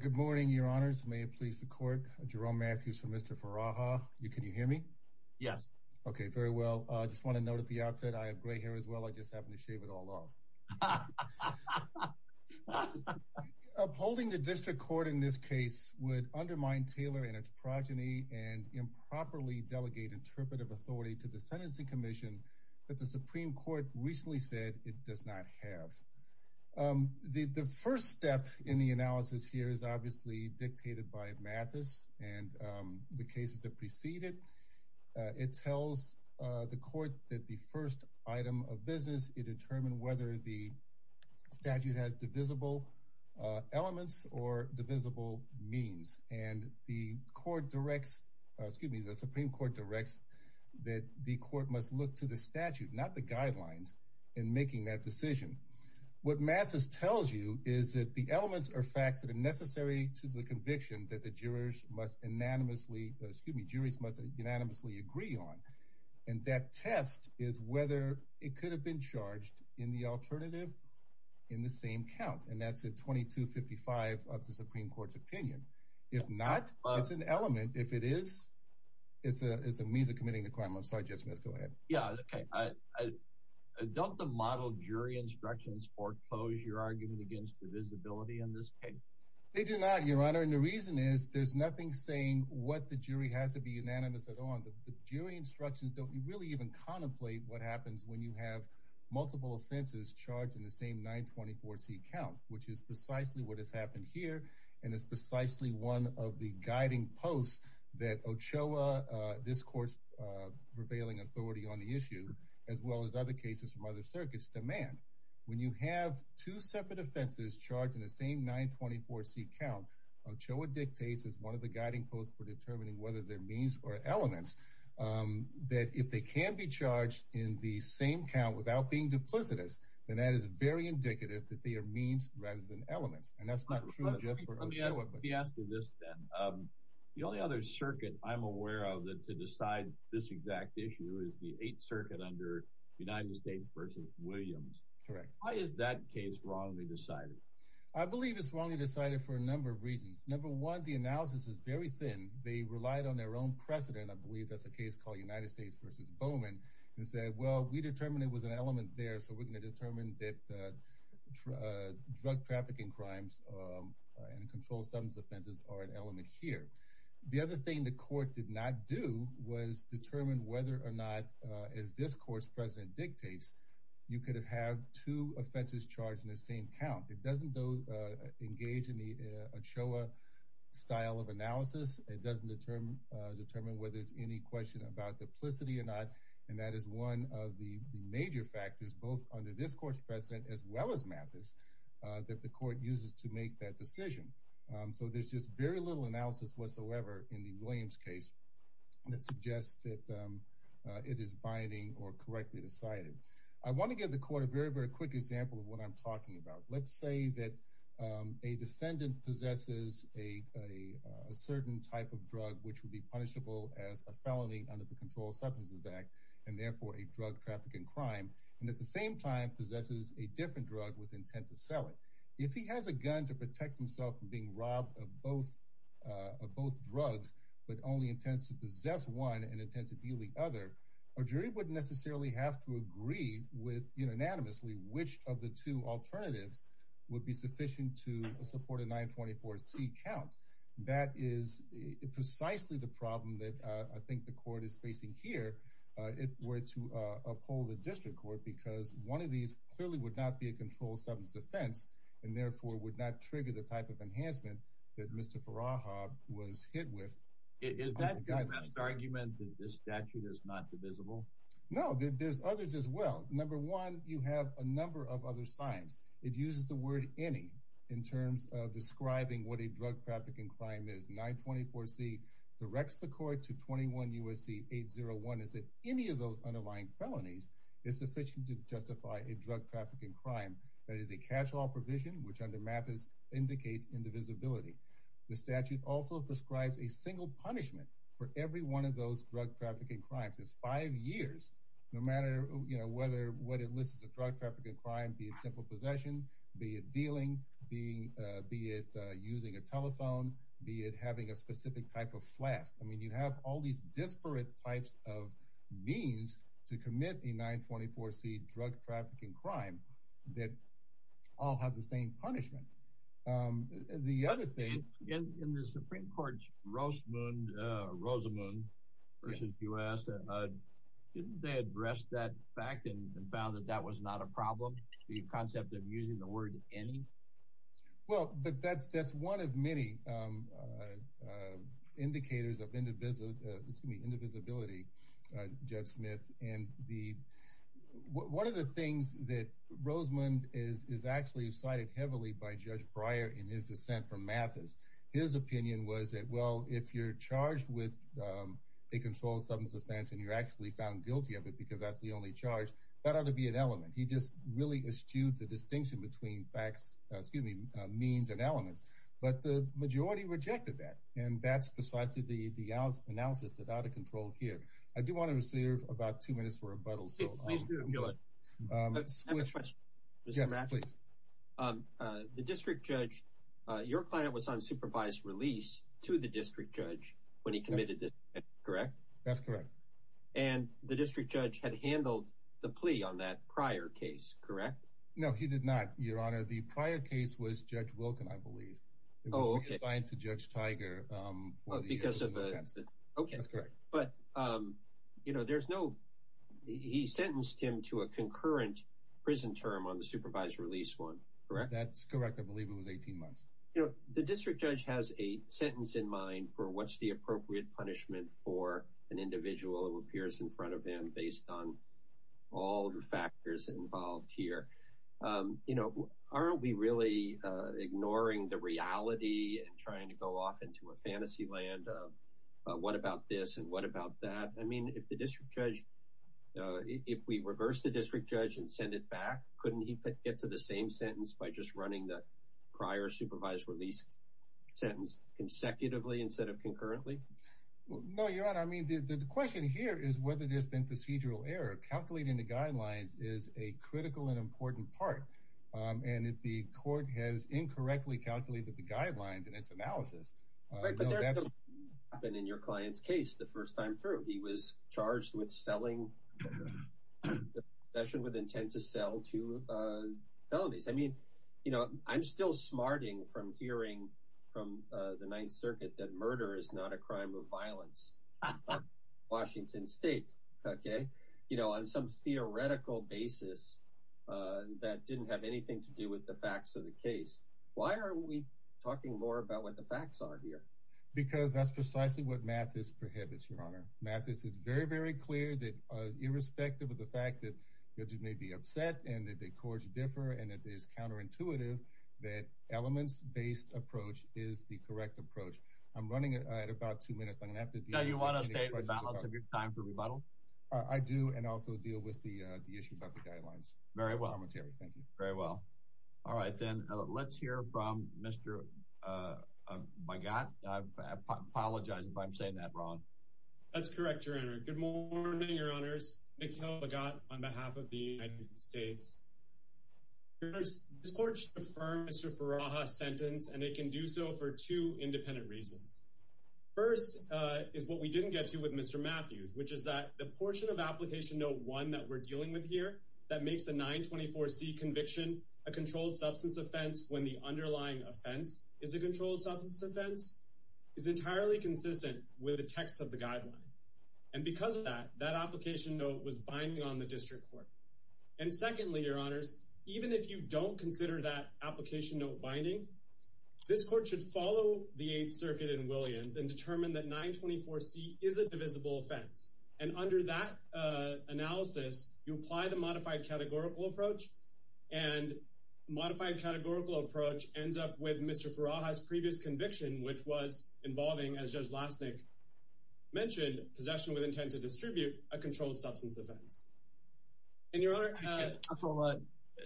Good morning, your honors. May it please the court. Jerome Matthews from Mr. Furaha. Can you hear me? Yes. Okay, very well. I just want to note at the outset, I have gray hair as well. I just happened to shave it all off. Upholding the district court in this case would undermine Taylor and its progeny and improperly delegate interpretive authority to the sentencing commission that the Supreme Court recently said it does not have. The first step in the analysis here is obviously dictated by Mathis and the cases that preceded. It tells the court that the first item of business is to determine whether the statute has divisible elements or divisible means. And the Supreme Court directs that the court must look to the statute, not the guidelines, in making that decision. What Mathis tells you is that the elements are facts that are necessary to the conviction that the jurors must unanimously agree on. And that test is whether it could have been charged in the alternative in the same count. That's the 2255 of the Supreme Court's opinion. If not, it's an element. If it is, it's a means of committing the crime. I'm sorry, Judge Smith. Go ahead. Yeah, okay. Don't the model jury instructions foreclose your argument against divisibility in this case? They do not, Your Honor. And the reason is there's nothing saying what the jury has to be unanimous at all. The jury instructions don't really even contemplate what happens when you have multiple offenses charged in the same 924C count, which is precisely what has happened here and is precisely one of the guiding posts that OCHOA, this court's prevailing authority on the issue, as well as other cases from other circuits, demand. When you have two separate offenses charged in the same 924C count, OCHOA dictates as one of guiding posts for determining whether they're means or elements, that if they can be charged in the same count without being duplicitous, then that is very indicative that they are means rather than elements. And that's not true just for OCHOA. Let me ask you this then. The only other circuit I'm aware of to decide this exact issue is the Eighth Circuit under United States v. Williams. Correct. Why is that case wrongly decided? I believe it's wrongly decided for a number of reasons. One of them is very thin. They relied on their own precedent. I believe that's a case called United States v. Bowman and said, well, we determined it was an element there, so we're going to determine that drug trafficking crimes and controlled substance offenses are an element here. The other thing the court did not do was determine whether or not, as this court's president dictates, you could have had two offenses charged in the same count. It doesn't, though, in the OCHOA style of analysis, it doesn't determine whether there's any question about duplicity or not, and that is one of the major factors, both under this court's president as well as Mathis, that the court uses to make that decision. So there's just very little analysis whatsoever in the Williams case that suggests that it is binding or correctly decided. I want to give the court a very, very quick example of what I'm talking about. Let's say that a defendant possesses a certain type of drug which would be punishable as a felony under the Controlled Substances Act, and therefore a drug trafficking crime, and at the same time possesses a different drug with intent to sell it. If he has a gun to protect himself from being robbed of both drugs but only intends to possess one and intends to deal the other, a jury wouldn't sufficient to support a 924C count. That is precisely the problem that I think the court is facing here if we're to uphold the district court, because one of these clearly would not be a controlled substance offense and therefore would not trigger the type of enhancement that Mr. Faraja was hit with. Is that the argument that this statute is not divisible? No, there's others as well. Number one, you have a number of other signs. It uses the word any in terms of describing what a drug trafficking crime is. 924C directs the court to 21 U.S.C. 801 is that any of those underlying felonies is sufficient to justify a drug trafficking crime. That is a catch-all provision which under Mathis indicates indivisibility. The statute also prescribes a whether what it lists as a drug trafficking crime be it simple possession, be it dealing, be it using a telephone, be it having a specific type of flask. I mean you have all these disparate types of means to commit a 924C drug trafficking crime that all have the same punishment. The other thing in the Supreme Court's Rosamund versus U.S., didn't they address that fact and found that that was not a problem, the concept of using the word any? Well, but that's one of many indicators of indivisibility, Jeff Smith, and one of the things that Rosamund is actually cited heavily by Judge Breyer in his dissent from Mathis, his opinion was that well if you're charged with a controlled substance offense and you're actually found guilty of it because that's the only charge, that ought to be an element. He just really eschewed the distinction between facts, excuse me, means and elements, but the majority rejected that and that's precisely the analysis that ought to control here. I do want to reserve about two minutes for rebuttal. The district judge, your client was on supervised release to the district judge when he committed this, correct? That's correct. And the district judge had handled the plea on that prior case, correct? No, he did not, your honor. The prior case was Judge Wilken, I believe. It was reassigned to Judge Tiger for the offense. Okay, that's correct, but you know there's no, he sentenced him to a concurrent prison term on the supervised release one, correct? That's correct, I believe it was 18 months. You know, the district judge has a sentence in mind for what's the appropriate punishment for an individual who appears in front of him based on all the factors involved here. You know, aren't we really ignoring the reality and trying to go off into a fantasy land of what about this and what about that? I mean, if the district judge, if we reverse the district judge and send it back, couldn't he get to the same sentence by just running the prior supervised release sentence consecutively instead of concurrently? No, your honor, I mean the question here is whether there's been procedural error. Calculating the guidelines is a critical and important part, and if the court has incorrectly calculated the guidelines in its analysis. Right, but that's happened in your client's case the first time through. He was charged with selling the confession with intent to sell two felonies. I mean, you know, I'm still smarting from hearing from the Ninth Circuit that murder is not a crime of basis that didn't have anything to do with the facts of the case. Why are we talking more about what the facts are here? Because that's precisely what Mathis prohibits, your honor. Mathis is very, very clear that irrespective of the fact that judges may be upset and that the courts differ and it is counterintuitive that elements-based approach is the correct approach. I'm running it at about two minutes. I'm going to have to do that. You want to update the balance of your time for rebuttal? I do and also deal with the issue about the guidelines. Very well. Thank you. Very well. All right, then let's hear from Mr. Bogat. I apologize if I'm saying that wrong. That's correct, your honor. Good morning, your honors. Mikhail Bogat on behalf of the United States. This court should affirm Mr. Faraha's sentence and it can do so for two independent reasons. First is what we didn't get to with Mr. Matthews, which is that the portion of application note one that we're dealing with here that makes a 924c conviction a controlled substance offense when the underlying offense is a controlled substance offense is entirely consistent with the text of the guideline. And because of that, that application note was binding on the district court. And secondly, your honors, even if you don't consider that application note binding, this court should follow the Eighth Circuit in Williams and determine that 924c is a divisible offense. And under that analysis, you apply the modified categorical approach and modified categorical approach ends up with Mr. Faraha's previous conviction, which was involving, as Judge Lasnik mentioned, possession with intent to distribute a controlled substance offense. And your honor,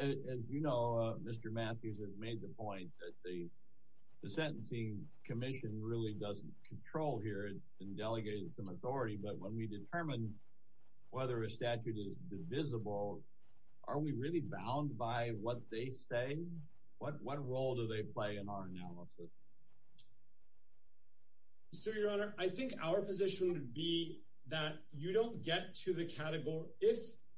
as you know, Mr. Matthews has made the point that the Sentencing Commission really doesn't control here and delegated some authority. But when we determine whether a statute is divisible, are we really bound by what they say? What what role do they play in our analysis? So your honor, I think our position would be that you don't get to the category.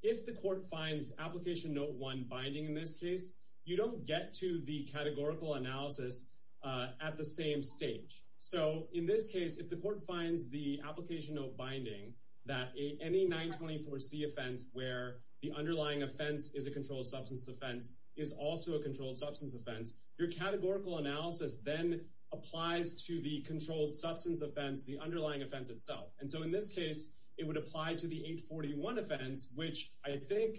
If the court finds application note one binding in this case, you don't get to the categorical analysis at the same stage. So in this case, if the court finds the application note binding that any 924c offense where the underlying offense is a controlled substance offense is also a controlled substance offense, your categorical analysis then applies to the controlled substance offense, the underlying offense itself. And so in this case, it would apply to the 841 offense, which I think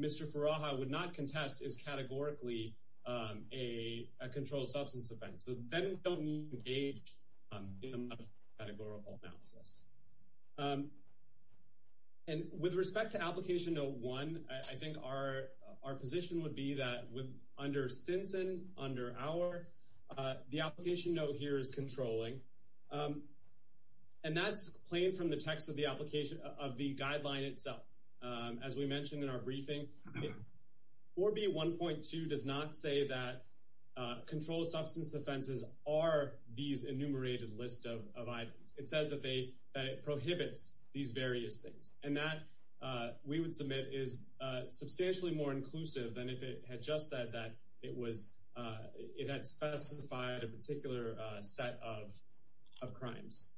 Mr. Faraha would not contest is categorically a controlled substance offense. So then we don't need to engage in a categorical analysis. And with respect to application note one, I think our our position would be that with under Stinson, under our, the application note here is controlling. And that's plain from the text of the application of the guideline itself. As we mentioned in our briefing, 4B1.2 does not say that controlled substance offenses are these enumerated list of items. It says that they that it prohibits these various things. And that we would submit is substantially more inclusive than if it had just said that it was it had specified a particular set of crimes.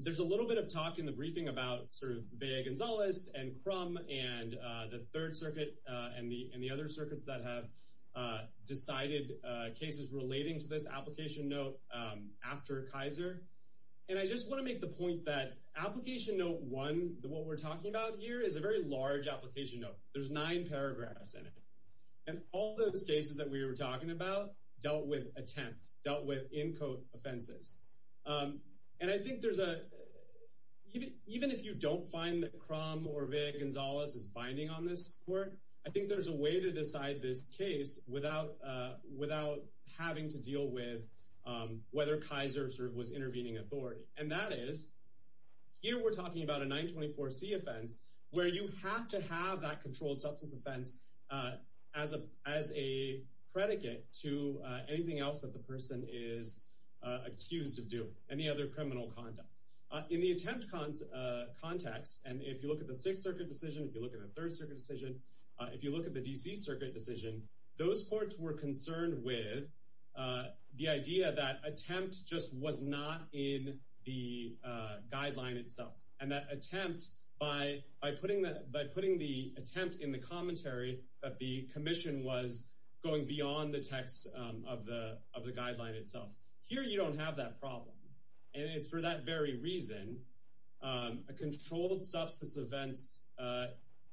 There's a little bit of talk in the briefing about sort of Vea Gonzalez and Crum and the Third Circuit and the and the other circuits that have decided cases relating to this application note after Kaiser. And I just want to make the point that application note one, what we're talking about here is a very large application note. There's nine paragraphs in it. And all those cases that we were talking about dealt with attempt, dealt with in code offenses. And I think there's a even even if you don't find that Crum or Vea Gonzalez is binding on this court, I think there's a way to decide this case without without having to deal with whether Kaiser sort of was intervening authority. And that is here we're talking about a 924 C offense where you have to have that controlled substance offense as a as a predicate to anything else that the person is accused of doing any other criminal conduct in the attempt context. And if you look at the Sixth Circuit decision, if you look at the Third Circuit decision, if you look at the DC Circuit decision, those courts were concerned with the idea that attempt just was not in the by putting that by putting the attempt in the commentary that the commission was going beyond the text of the of the guideline itself. Here you don't have that problem. And it's for that very reason, a controlled substance events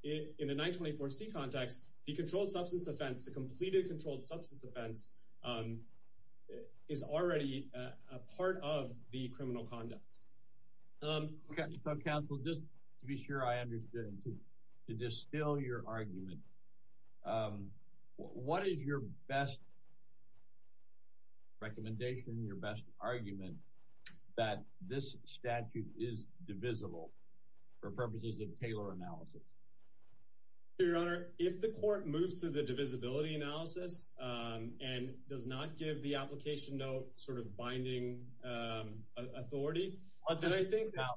in a 924 C context, the controlled substance offense, the completed controlled substance offense is already a part of the criminal conduct. Um, Council, just to be sure I understand to distill your argument. What is your best recommendation, your best argument that this statute is divisible for purposes of Taylor analysis? Your Honor, if the court moves to the divisibility analysis, and does not give the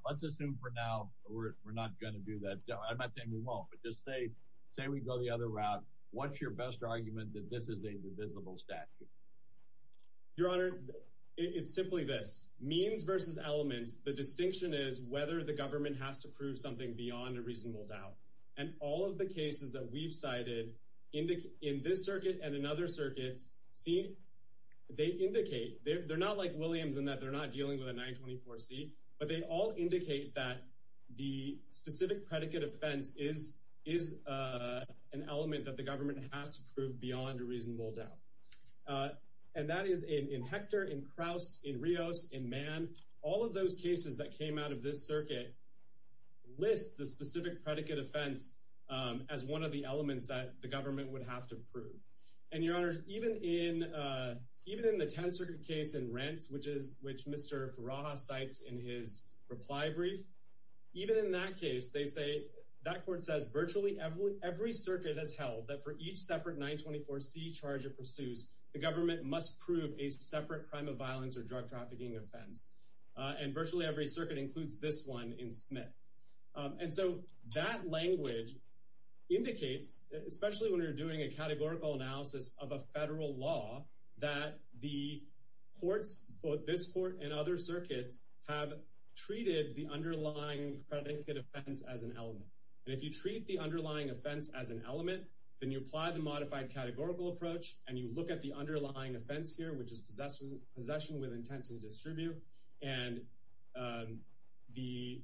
let's assume for now, we're not going to do that. I'm not saying we won't, but just say, say we go the other route. What's your best argument that this is a divisible statute? Your Honor, it's simply this means versus elements. The distinction is whether the government has to prove something beyond a reasonable doubt. And all of the cases that we've cited in the in this circuit and in other circuits, see, they indicate they're not like 924 C, but they all indicate that the specific predicate offense is is an element that the government has to prove beyond a reasonable doubt. And that is in Hector in Krauss in Rios in man, all of those cases that came out of this circuit, list the specific predicate offense, as one of the elements that the government would have to prove. And your honor, even in, even in the tensor case in rents, which is which Mr. Ross sites in his reply brief, even in that case, they say that court says virtually every every circuit has held that for each separate 924 C charge it pursues, the government must prove a separate crime of violence or drug trafficking offense. And virtually every circuit includes this one in Smith. And so that language indicates, especially when you're doing a categorical analysis of a federal law, that the courts, both this court and other circuits have treated the underlying predicate offense as an element. And if you treat the underlying offense as an element, then you apply the modified categorical approach and you look at the underlying offense here, which is possession, possession with intent to distribute. And the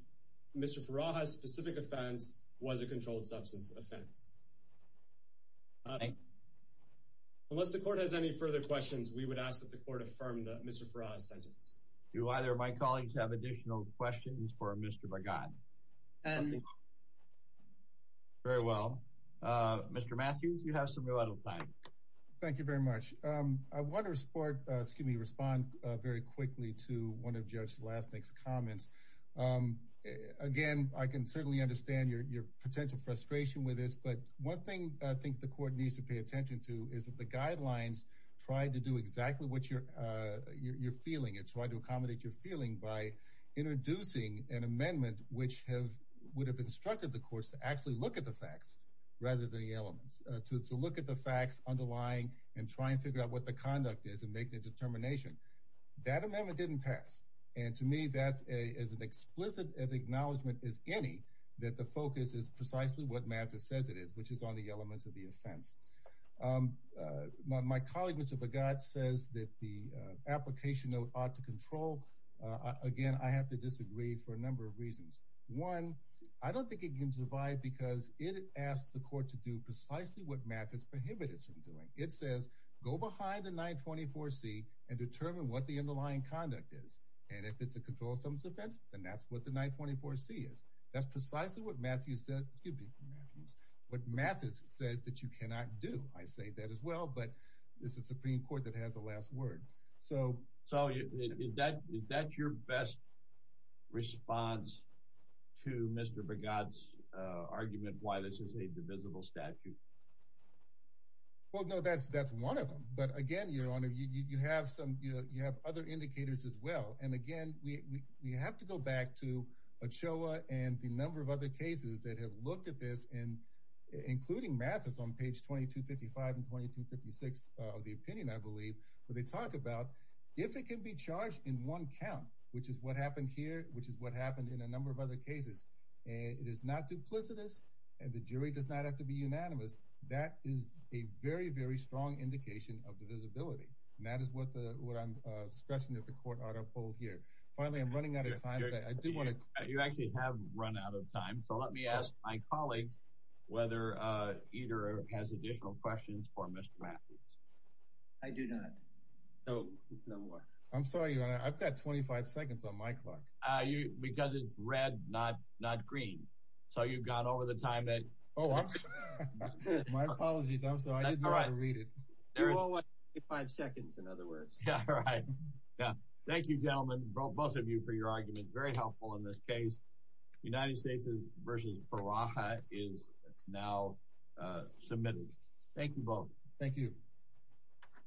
Mr. Faraha specific offense was a controlled substance offense. Unless the court has any further questions, we would ask that the court affirmed that Mr. Faraha sentence. Do either of my colleagues have additional questions for Mr. Very well, Mr. Matthews, you have some time. Thank you very much. I want to support, excuse me, respond very quickly to one of Judge last next comments. Again, I can certainly understand your potential frustration with this, but one thing I think the court needs to pay attention to is that the guidelines try to do exactly what you're you're feeling. It's hard to accommodate your feeling by introducing an amendment which have would have instructed the courts to actually look at the facts rather than the elements to look at the facts underlying and try and figure out what the conduct is and make a determination that amendment didn't pass. And to me, that's a is an explicit acknowledgement is any that the focus is precisely what matters says it is, which is on the elements of the offense. My colleague Mr. God says that the application note ought to control again. I have to disagree for a number of reasons. One, I don't think it can survive because it asks the court to do precisely what math is prohibited from doing. It says go behind the 924 C and determine what the underlying conduct is. And if it's a control of some defense, then that's what the 924 C is. That's precisely what Matthew said. Excuse me, Matthews. What math is says that you cannot do. I say that as well, but this is a Supreme Court that has the last word. So so is that is that your best response to Mr. God's argument why this is a divisible statute? Well, no, that's that's one of them. But again, your honor, you have some you have other indicators as well. And again, we have to go back to Ochoa and the number of other cases that have looked at this and including Mathis on page 2255 and 2256 of the opinion, I believe, where they talk about if it can be charged in one count, which is what happened here, which is what happened in a number of other cases. And it is not duplicitous. And the jury does not have to be unanimous. That is a very, very strong indication of divisibility. And that is what the what I'm stressing at the court auto poll here. Finally, I'm running out of time. I do want to you actually have run out of time. So let me ask my colleague whether either has additional questions for Mr. I do not know. No more. I'm sorry. I've got 25 seconds on my clock. Because it's red, not not green. So you've got over the time that my apologies. I'm sorry. I didn't read it. There are five seconds in other words. Thank you, gentlemen, both of you for your argument. Very helpful in this case. United States versus Barack is now submitted. Thank you both. Thank you.